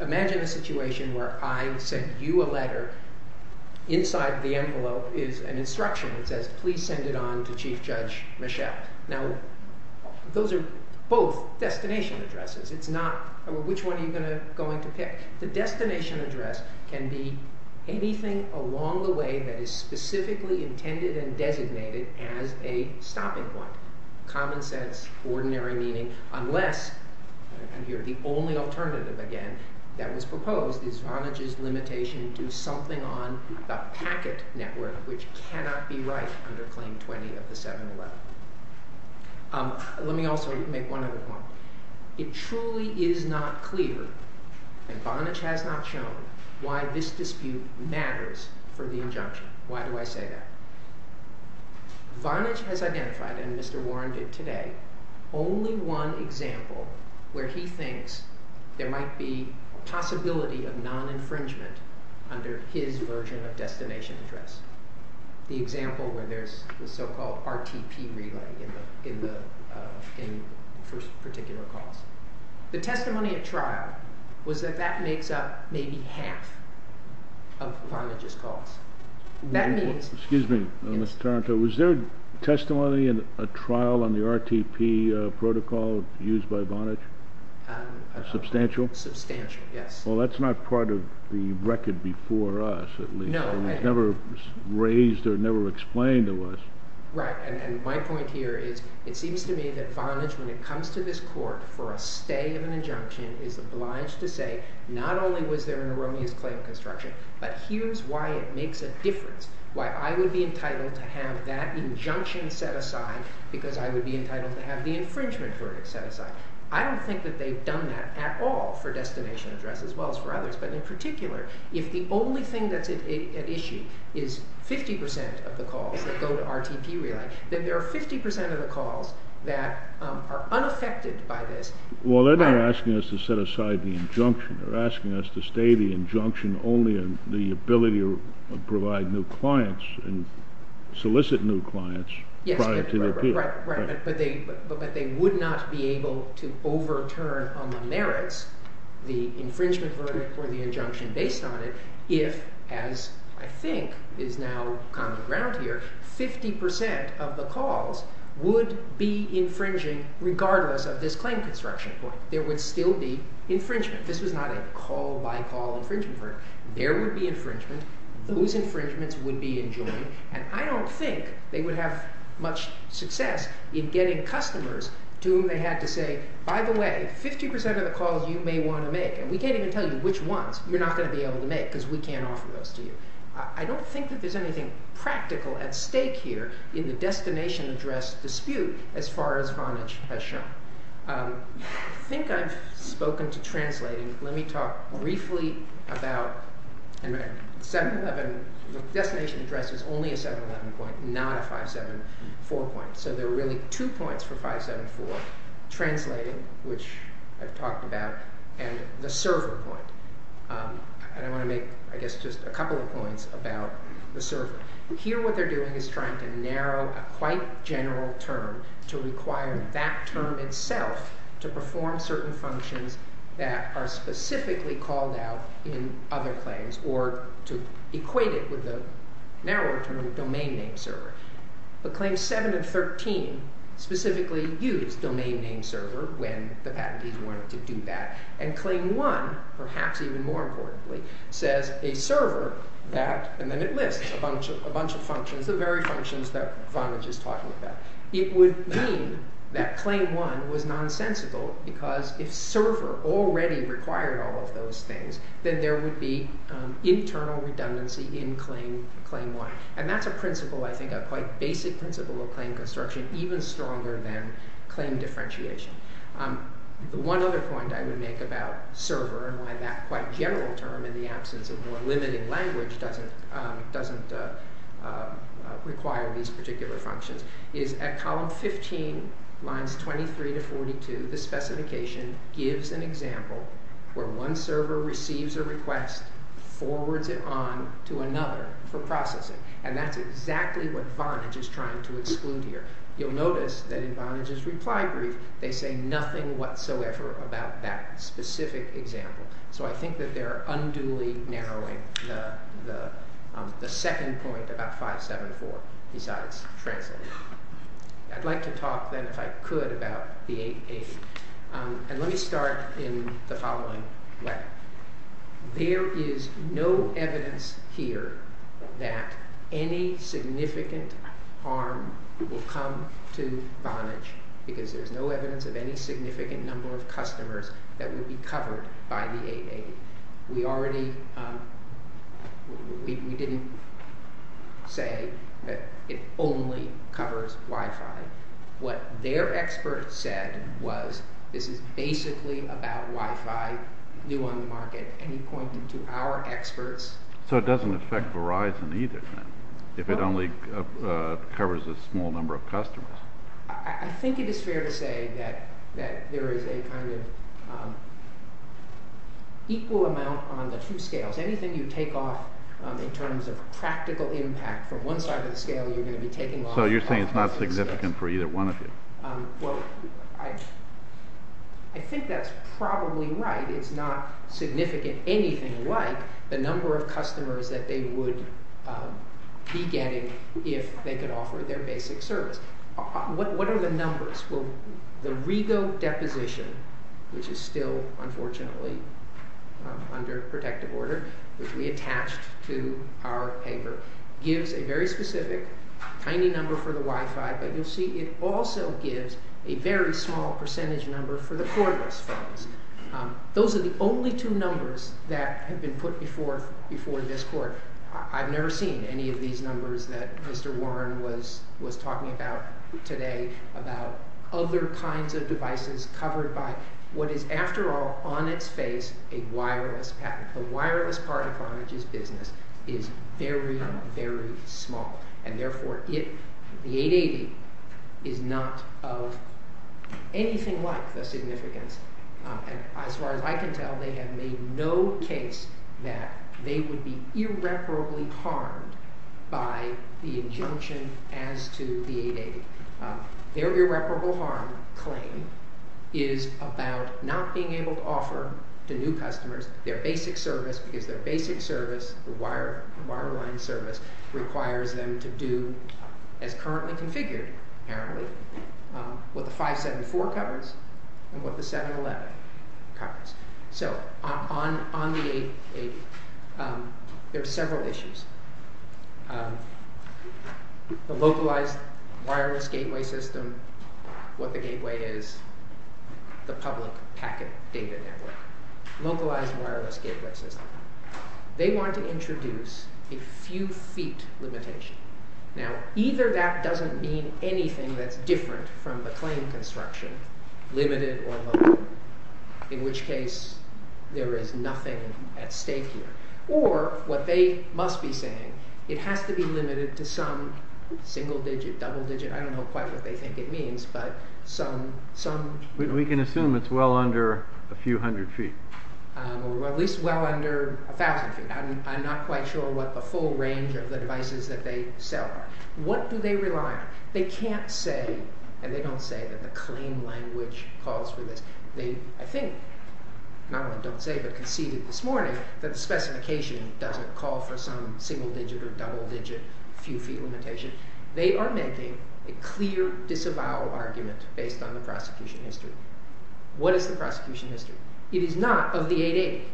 Imagine a situation where I send you a letter. Inside the envelope is an instruction that says, please send it on to Chief Judge Michel. Now, those are both destination addresses. It's not, which one are you going to pick? The destination address can be anything along the way that is specifically intended and designated as a stopping point. Common sense, ordinary meaning, unless, and here the only alternative again that was proposed is Vonage's limitation to something on the packet network, which cannot be right under Claim 20 of the 7-11. Let me also make one other point. It truly is not clear, and Vonage has not shown, why this dispute matters for the injunction. Why do I say that? Vonage has identified, and Mr. Warren did today, only one example where he thinks there might be a possibility of non-infringement under his version of destination address, the example where there's the so-called RTP relay in particular calls. The testimony at trial was that that makes up maybe half of Vonage's calls. Excuse me, Mr. Taranto, was there testimony in a trial on the RTP protocol used by Vonage? Substantial? Substantial, yes. Well, that's not part of the record before us, at least. It was never raised or never explained to us. Right, and my point here is it seems to me that Vonage, when it comes to this court for a stay of an injunction, is obliged to say, not only was there an erroneous claim construction, but here's why it makes a difference, why I would be entitled to have that injunction set aside because I would be entitled to have the infringement verdict set aside. I don't think that they've done that at all for destination address as well as for others, but in particular, if the only thing that's at issue is 50% of the calls that go to RTP relay, then there are 50% of the calls that are unaffected by this. Well, they're not asking us to set aside the injunction. They're asking us to stay the injunction only on the ability to provide new clients and solicit new clients prior to the appeal. Right, but they would not be able to overturn on the merits the infringement verdict or the injunction based on it if, as I think is now common ground here, 50% of the calls would be infringing regardless of this claim construction point. There would still be infringement. This was not a call-by-call infringement. There would be infringement. Those infringements would be enjoined, and I don't think they would have much success in getting customers to whom they had to say, by the way, 50% of the calls you may want to make, and we can't even tell you which ones you're not going to be able to make because we can't offer those to you. I don't think that there's anything practical at stake here in the destination address dispute as far as Vonage has shown. I think I've spoken to translating. Let me talk briefly about 711. The destination address is only a 711 point, not a 574 point. So there are really two points for 574, translating, which I've talked about, and the server point. I want to make, I guess, just a couple of points about the server. Here what they're doing is trying to narrow a quite general term to require that term itself to perform certain functions that are specifically called out in other claims or to equate it with the narrower term domain name server. But claims 7 and 13 specifically use domain name server when the patentees wanted to do that. And claim 1, perhaps even more importantly, says a server that, and then it lists a bunch of functions, the very functions that Vonage is talking about. It would mean that claim 1 was nonsensical because if server already required all of those things, then there would be internal redundancy in claim 1. And that's a principle, I think, a quite basic principle of claim construction, even stronger than claim differentiation. One other point I would make about server and why that quite general term in the absence of more limiting language doesn't require these particular functions is at column 15, lines 23 to 42, the specification gives an example where one server receives a request, forwards it on to another for processing. And that's exactly what Vonage is trying to exclude here. You'll notice that in Vonage's reply brief, they say nothing whatsoever about that specific example. So I think that they're unduly narrowing the second point about 574 besides translating. I'd like to talk then, if I could, about the 880. And let me start in the following way. There is no evidence here that any significant harm will come to Vonage because there's no evidence of any significant number of customers that will be covered by the 880. We didn't say that it only covers Wi-Fi. What their experts said was this is basically about Wi-Fi, new on the market. And he pointed to our experts. So it doesn't affect Verizon either, then, if it only covers a small number of customers? I think it is fair to say that there is a kind of equal amount on the two scales. Anything you take off in terms of practical impact from one side of the scale, you're going to be taking off. So you're saying it's not significant for either one of you? Well, I think that's probably right. It's not significant anything like the number of customers that they would be getting if they could offer their basic service. What are the numbers? Well, the Rego deposition, which is still, unfortunately, under protective order, which we attached to our paper, gives a very specific tiny number for the Wi-Fi, but you'll see it also gives a very small percentage number for the cordless phones. Those are the only two numbers that have been put before this court. I've never seen any of these numbers that Mr. Warren was talking about today, about other kinds of devices covered by what is, after all, on its face, a wireless patent. The wireless part of Vonage's business is very, very small. And therefore, the 880 is not of anything like the significance. As far as I can tell, they have made no case that they would be irreparably harmed by the injunction as to the 880. Their irreparable harm claim is about not being able to offer the new customers their basic service because their basic service, the wireline service, requires them to do, as currently configured, apparently, what the 574 covers and what the 711 covers. So, on the 880, there are several issues. The localized wireless gateway system, what the gateway is, the public packet data network. Localized wireless gateway system. They want to introduce a few feet limitation. Now, either that doesn't mean anything that's different from the claim construction, limited or low, in which case there is nothing at stake here. Or, what they must be saying, it has to be limited to some single digit, double digit, I don't know quite what they think it means, but some... We can assume it's well under a few hundred feet. Or at least well under a thousand feet. I'm not quite sure what the full range of the devices that they sell are. What do they rely on? They can't say, and they don't say, that the claim language calls for this. They, I think, not only don't say, but conceded this morning, that the specification doesn't call for some single digit or double digit few feet limitation. They are making a clear disavowal argument based on the prosecution history. What is the prosecution history? It is not of the 880.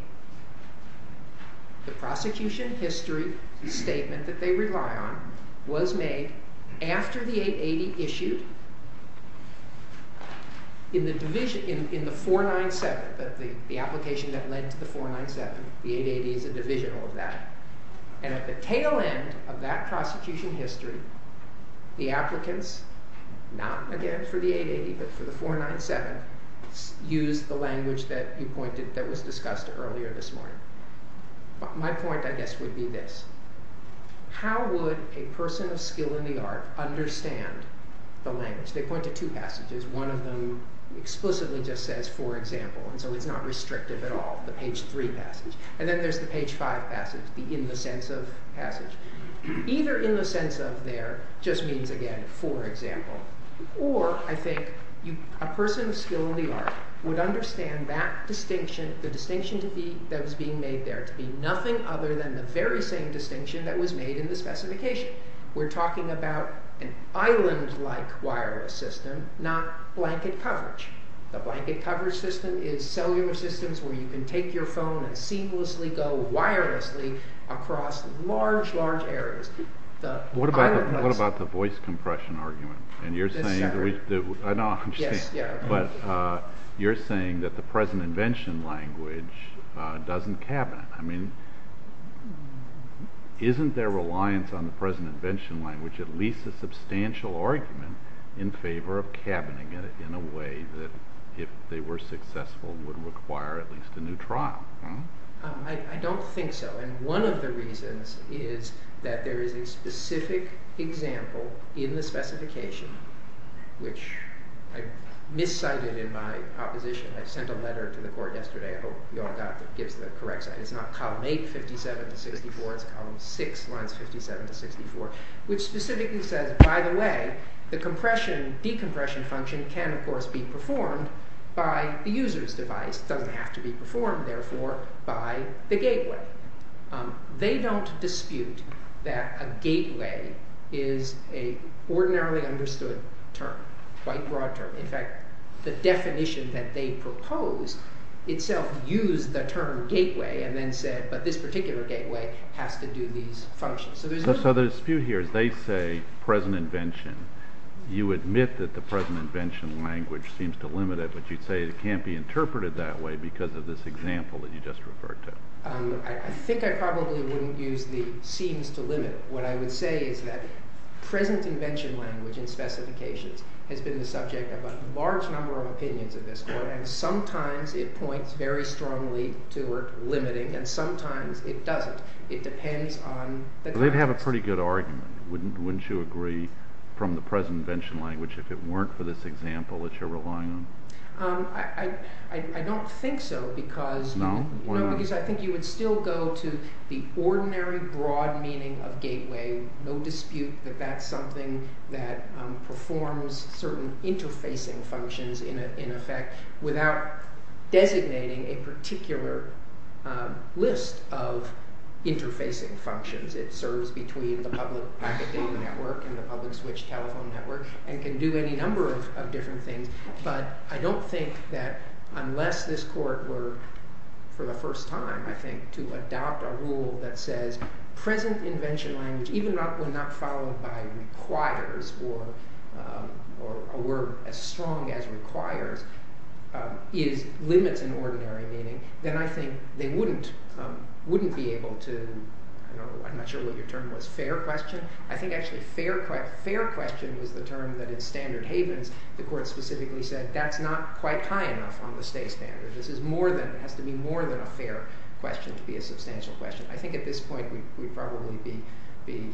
The prosecution history statement that they rely on was made after the 880 issued in the division, in the 497, the application that led to the 497. The 880 is a divisional of that. And at the tail end of that prosecution history, the applicants, not again for the 880, but for the 497, use the language that you pointed, that was discussed earlier this morning. My point, I guess, would be this. How would a person of skill in the art understand the language? They point to two passages. One of them explicitly just says, for example. And so it's not restrictive at all, the page 3 passage. And then there's the page 5 passage, the in the sense of passage. Either in the sense of there just means, again, for example. Or, I think, a person of skill in the art would understand that distinction, the distinction that was being made there to be nothing other than the very same distinction that was made in the specification. We're talking about an island-like wireless system, not blanket coverage. The blanket coverage system is cellular systems where you can take your phone and seamlessly go wirelessly across large, large areas. What about the voice compression argument? And you're saying that the present invention language doesn't cabinet. I mean, isn't there reliance on the present invention language, at least a substantial argument, in favor of cabining it in a way that, if they were successful, would require at least a new trial? I don't think so. And one of the reasons is that there is a specific example in the specification, which I miscited in my opposition. I sent a letter to the court yesterday. I hope you all got it. It gives the correct sign. It's not column 8, 57 to 64. It's column 6, lines 57 to 64, which specifically says, by the way, the decompression function can, of course, be performed by the user's device. It doesn't have to be performed, therefore, by the gateway. They don't dispute that a gateway is an ordinarily understood term, quite broad term. In fact, the definition that they propose itself used the term gateway and then said, but this particular gateway has to do these functions. So the dispute here is they say present invention. You admit that the present invention language seems to limit it, but you'd say it can't be interpreted that way because of this example that you just referred to. I think I probably wouldn't use the seems to limit it. What I would say is that present invention language in specifications has been the subject of a large number of opinions of this court, and sometimes it points very strongly toward limiting, and sometimes it doesn't. It depends on the context. They'd have a pretty good argument, wouldn't you agree, from the present invention language, if it weren't for this example that you're relying on? I don't think so because I think you would still go to the ordinary, broad meaning of gateway. No dispute that that's something that performs certain interfacing functions in effect without designating a particular list of interfacing functions. It serves between the public packet data network and the public switch telephone network and can do any number of different things, but I don't think that unless this court were, for the first time, I think, to adopt a rule that says present invention language, even when not followed by requires or a word as strong as requires, limits an ordinary meaning, then I think they wouldn't be able to, I'm not sure what your term was, fair question? I think actually fair question was the term that in standard havens the court specifically said that's not quite high enough on the state standard. This has to be more than a fair question to be a substantial question. I think at this point we'd probably be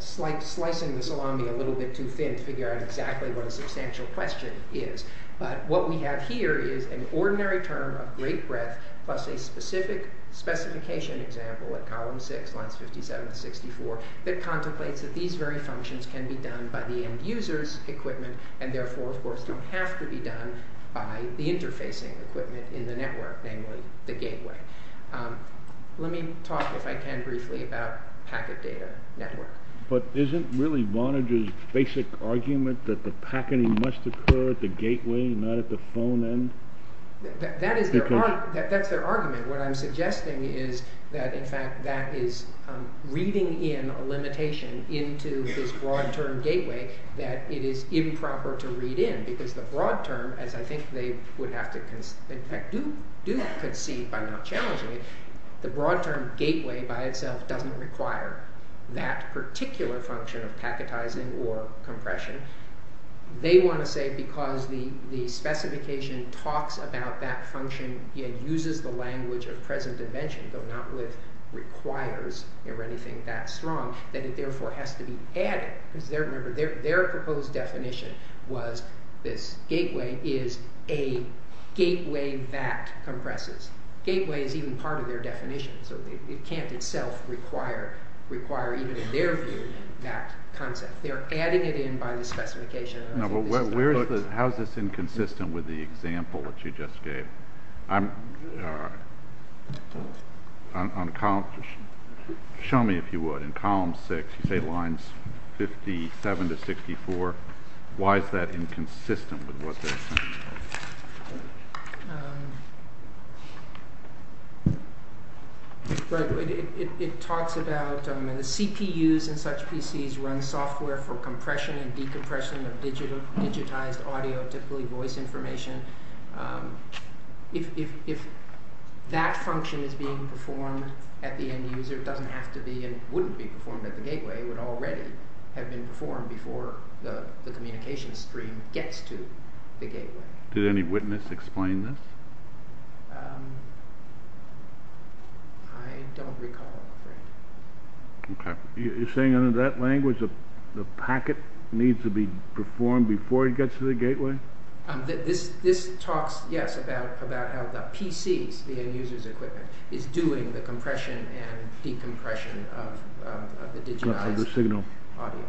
slicing the salami a little bit too thin to figure out exactly what a substantial question is, but what we have here is an ordinary term of great breadth plus a specific specification example at column 6, lines 57 and 64 that contemplates that these very functions can be done by the end user's equipment and therefore of course don't have to be done by the interfacing equipment in the network, namely the gateway. Let me talk, if I can briefly, about packet data network. But isn't really Vonage's basic argument that the packeting must occur at the gateway and not at the phone end? That is their argument. What I'm suggesting is that in fact that is reading in a limitation into this broad term gateway that it is improper to read in because the broad term, as I think they would have to, in fact do concede by not challenging it, the broad term gateway by itself doesn't require that particular function of packetizing or compression. They want to say because the specification talks about that function and uses the language of present invention, though not with requires or anything that strong, that it therefore has to be added. Remember, their proposed definition was this gateway is a gateway that compresses. Gateway is even part of their definition, so it can't itself require even in their view that concept. They're adding it in by the specification. How is this inconsistent with the example that you just gave? Show me if you would. In column six you say lines 57 to 64. Why is that inconsistent with what they're saying? It talks about the CPUs in such PCs run software for compression and decompression of digitized audio, typically voice information. If that function is being performed at the end user, it doesn't have to be and wouldn't be performed at the gateway. The gateway would already have been performed before the communication stream gets to the gateway. Did any witness explain this? I don't recall, I'm afraid. You're saying under that language the packet needs to be performed before it gets to the gateway? This talks, yes, about how the PCs, the end user's equipment, is doing the compression and decompression of the digitized audio.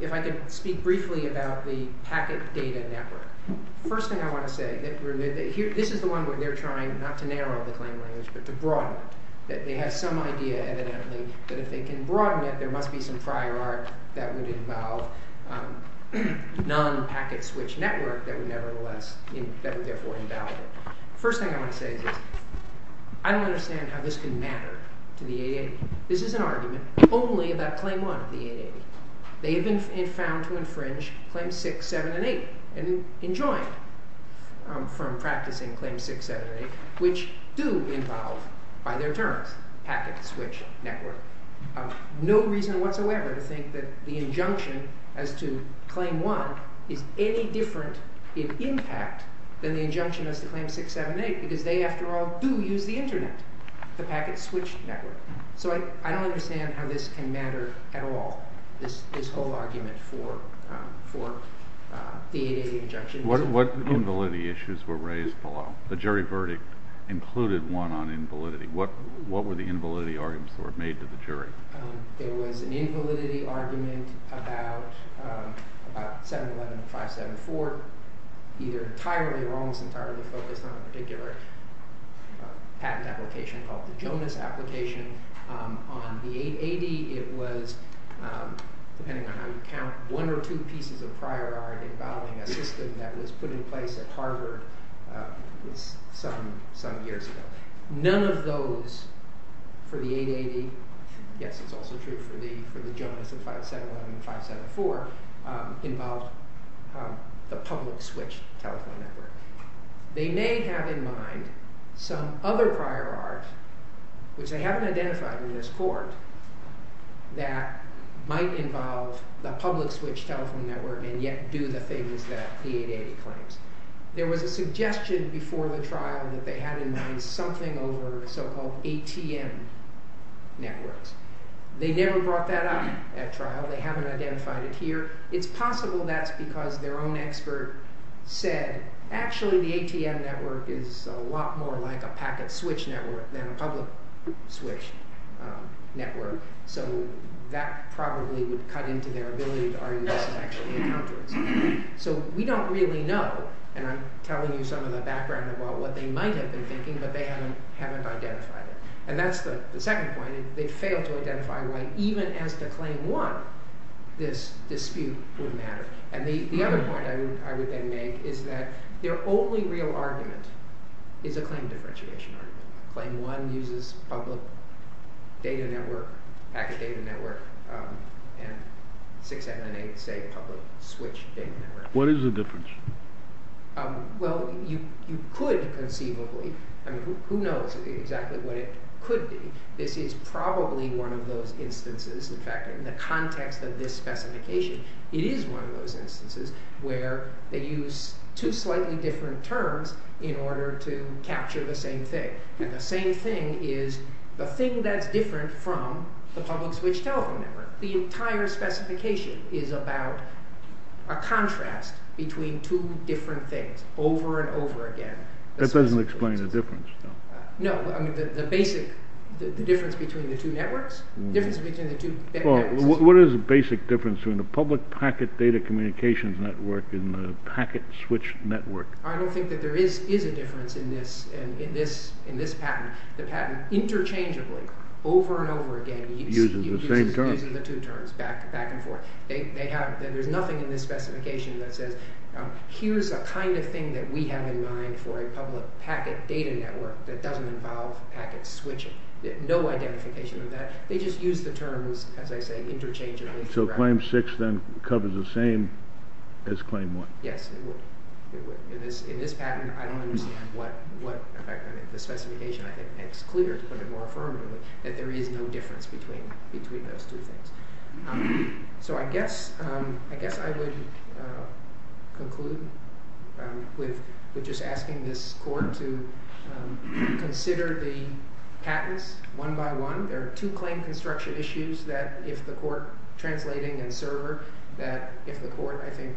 If I could speak briefly about the packet data network. First thing I want to say, this is the one where they're trying not to narrow the claim language but to broaden it. They have some idea evidently that if they can broaden it, there must be some prior art that would involve non-packet switch network that would therefore invalidate it. First thing I want to say is this. I don't understand how this can matter to the 880. This is an argument only about Claim 1 of the 880. They have been found to infringe Claims 6, 7, and 8 and enjoined from practicing Claims 6, 7, and 8, which do involve by their terms packet switch network. No reason whatsoever to think that the injunction as to Claim 1 is any different in impact than the injunction as to Claim 6, 7, and 8 because they, after all, do use the Internet, the packet switch network. So I don't understand how this can matter at all, this whole argument for the 880 injunction. What invalidity issues were raised below? The jury verdict included one on invalidity. There was an invalidity argument about 711 and 574, either entirely or almost entirely focused on a particular patent application called the Jonas application. On the 880, it was, depending on how you count, one or two pieces of prior art involving a system that was put in place at Harvard some years ago. None of those for the 880, yes, it's also true for the Jonas and 571 and 574, involved the public switch telephone network. They may have in mind some other prior art, which they haven't identified in this court, that might involve the public switch telephone network and yet do the things that the 880 claims. There was a suggestion before the trial that they had in mind something over so-called ATM networks. They never brought that up at trial. They haven't identified it here. It's possible that's because their own expert said, actually the ATM network is a lot more like a packet switch network than a public switch network, so that probably would cut into their ability to argue this is actually a counter-insurance. So we don't really know, and I'm telling you some of the background about what they might have been thinking, but they haven't identified it. And that's the second point. They failed to identify why even as to claim one this dispute would matter. And the other point I would then make is that their only real argument is a claim differentiation argument. Claim one uses public data network, packet data network, and 678 say public switch data network. What is the difference? Well, you could conceivably. I mean, who knows exactly what it could be. This is probably one of those instances. In fact, in the context of this specification, it is one of those instances where they use two slightly different terms in order to capture the same thing. And the same thing is the thing that's different from the public switch telephone network. The entire specification is about a contrast between two different things over and over again. That doesn't explain the difference, though. No, I mean the basic difference between the two networks, the difference between the two. What is the basic difference between the public packet data communications network and the packet switch network? I don't think that there is a difference in this patent. The patent interchangeably, over and over again, uses the same terms back and forth. There's nothing in this specification that says, here's the kind of thing that we have in mind for a public packet data network that doesn't involve packet switching. No identification of that. They just use the terms, as I say, interchangeably throughout. So claim six then covers the same as claim one. Yes, it would. In this patent, I don't understand what the specification, I think, makes clear, to put it more affirmatively, that there is no difference between those two things. So I guess I would conclude with just asking this court to consider the patents one by one. There are two claim construction issues that if the court, translating and server, that if the court, I think,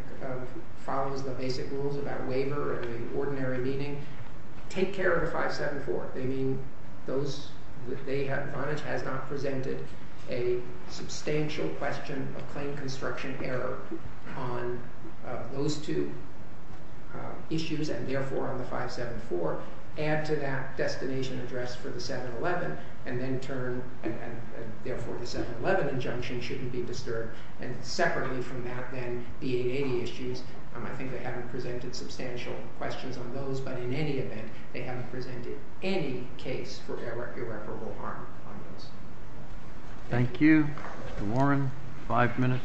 follows the basic rules about waiver or the ordinary meeting, take care of the 574. They mean those that Vonage has not presented a substantial question of claim construction error on those two issues, and therefore on the 574, add to that destination address for the 711, and then turn, and therefore the 711 injunction shouldn't be disturbed. And separately from that, then, the 880 issues, I think they haven't presented substantial questions on those. But in any event, they haven't presented any case for irreparable harm on those. Thank you. Mr. Warren, five minutes.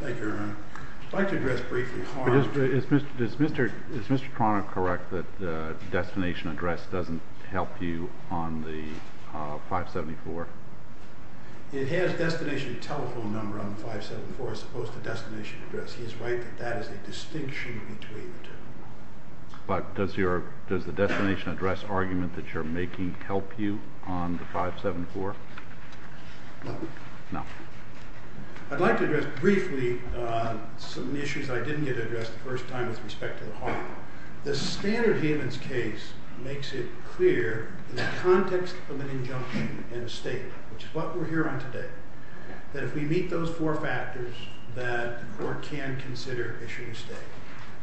Thank you, Your Honor. I'd like to address briefly harm. Is Mr. Cronin correct that the destination address doesn't help you on the 574? It has destination telephone number on the 574 as opposed to destination address. He is right that that is a distinction between the two. But does the destination address argument that you're making help you on the 574? No. No. I'd like to address briefly some of the issues I didn't get addressed the first time with respect to the harm. The standard humans case makes it clear in the context of an injunction and a statement, which is what we're here on today, that if we meet those four factors, that the court can consider issuing a state.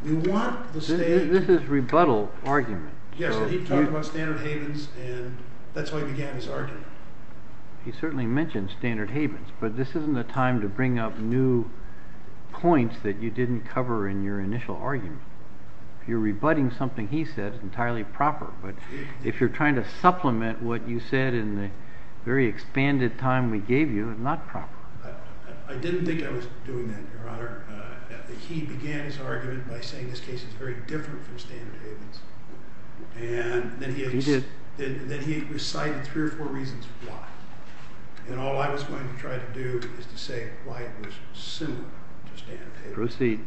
We want the state to This is rebuttal argument. Yes, he talked about standard havens, and that's why he began his argument. He certainly mentioned standard havens, but this isn't the time to bring up new points that you didn't cover in your initial argument. If you're rebutting something he said, it's entirely proper. But if you're trying to supplement what you said in the very expanded time we gave you, it's sort of not proper. I didn't think I was doing that, Your Honor. He began his argument by saying this case is very different from standard havens. And then he recited three or four reasons why. And all I was going to try to do is to say why it was similar to standard havens. Proceed.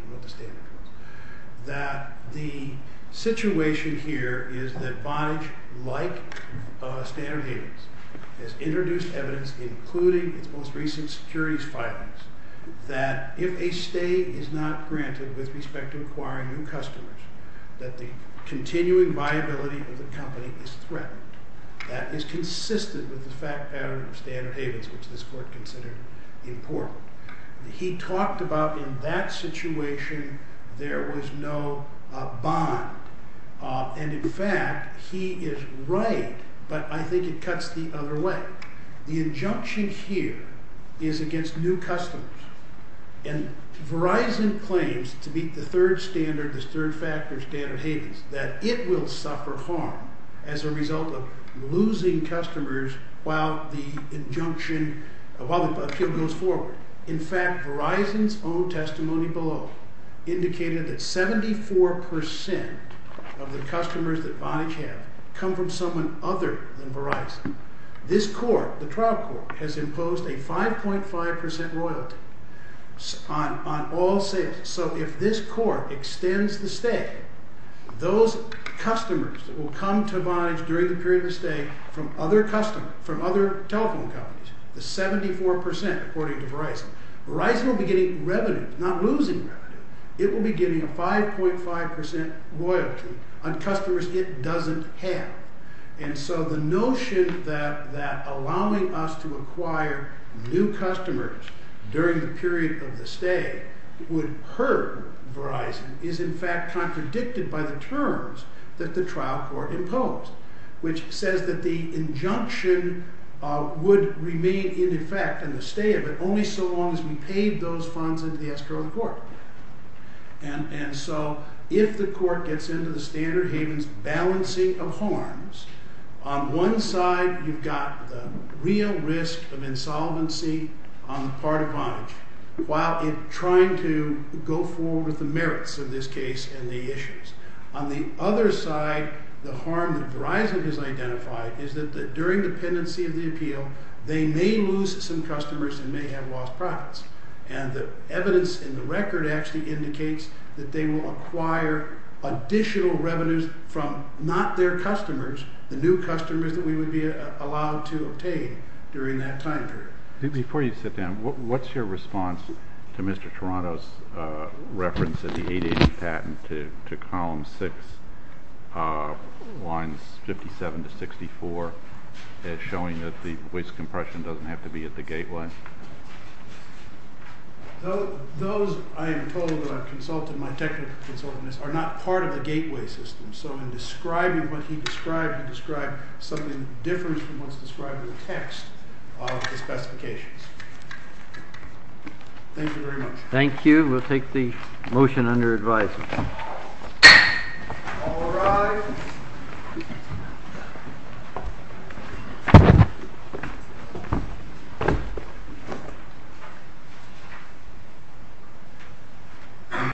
That the situation here is that Vonage, like standard havens, has introduced evidence, including its most recent securities filings, that if a stay is not granted with respect to acquiring new customers, that the continuing viability of the company is threatened. That is consistent with the fact pattern of standard havens, which this court considered important. He talked about in that situation there was no bond. And, in fact, he is right, but I think it cuts the other way. The injunction here is against new customers. And Verizon claims to meet the third standard, the third factor standard havens, that it will suffer harm as a result of losing customers while the injunction, while the appeal goes forward. In fact, Verizon's own testimony below indicated that 74% of the customers that Vonage have come from someone other than Verizon. This court, the trial court, has imposed a 5.5% royalty on all sales. So if this court extends the stay, those customers that will come to Vonage during the period of the stay from other telephone companies, the 74%, according to Verizon, Verizon will be getting revenue, not losing revenue. It will be getting a 5.5% royalty on customers it doesn't have. And so the notion that allowing us to acquire new customers during the period of the stay would hurt Verizon is, in fact, contradicted by the terms that the trial court imposed, which says that the injunction would remain in effect in the stay of it only so long as we paid those funds into the escrow of the court. And so if the court gets into the standard havens balancing of harms, on one side you've got the real risk of insolvency on the part of Vonage, while trying to go forward with the merits of this case and the issues. On the other side, the harm that Verizon has identified is that during dependency of the appeal, they may lose some customers and may have lost profits. And the evidence in the record actually indicates that they will acquire additional revenues from not their customers, the new customers that we would be allowed to obtain during that time period. Before you sit down, what's your response to Mr. Toronto's reference of the 880 patent to column six, lines 57 to 64, as showing that the waste compression doesn't have to be at the gateway? Those, I am told, that I've consulted, my technical consultants, are not part of the gateway system. So in describing what he described, I'm trying to describe something that differs from what's described in the text of the specifications. Thank you very much. Thank you. We'll take the motion under advisory. All rise.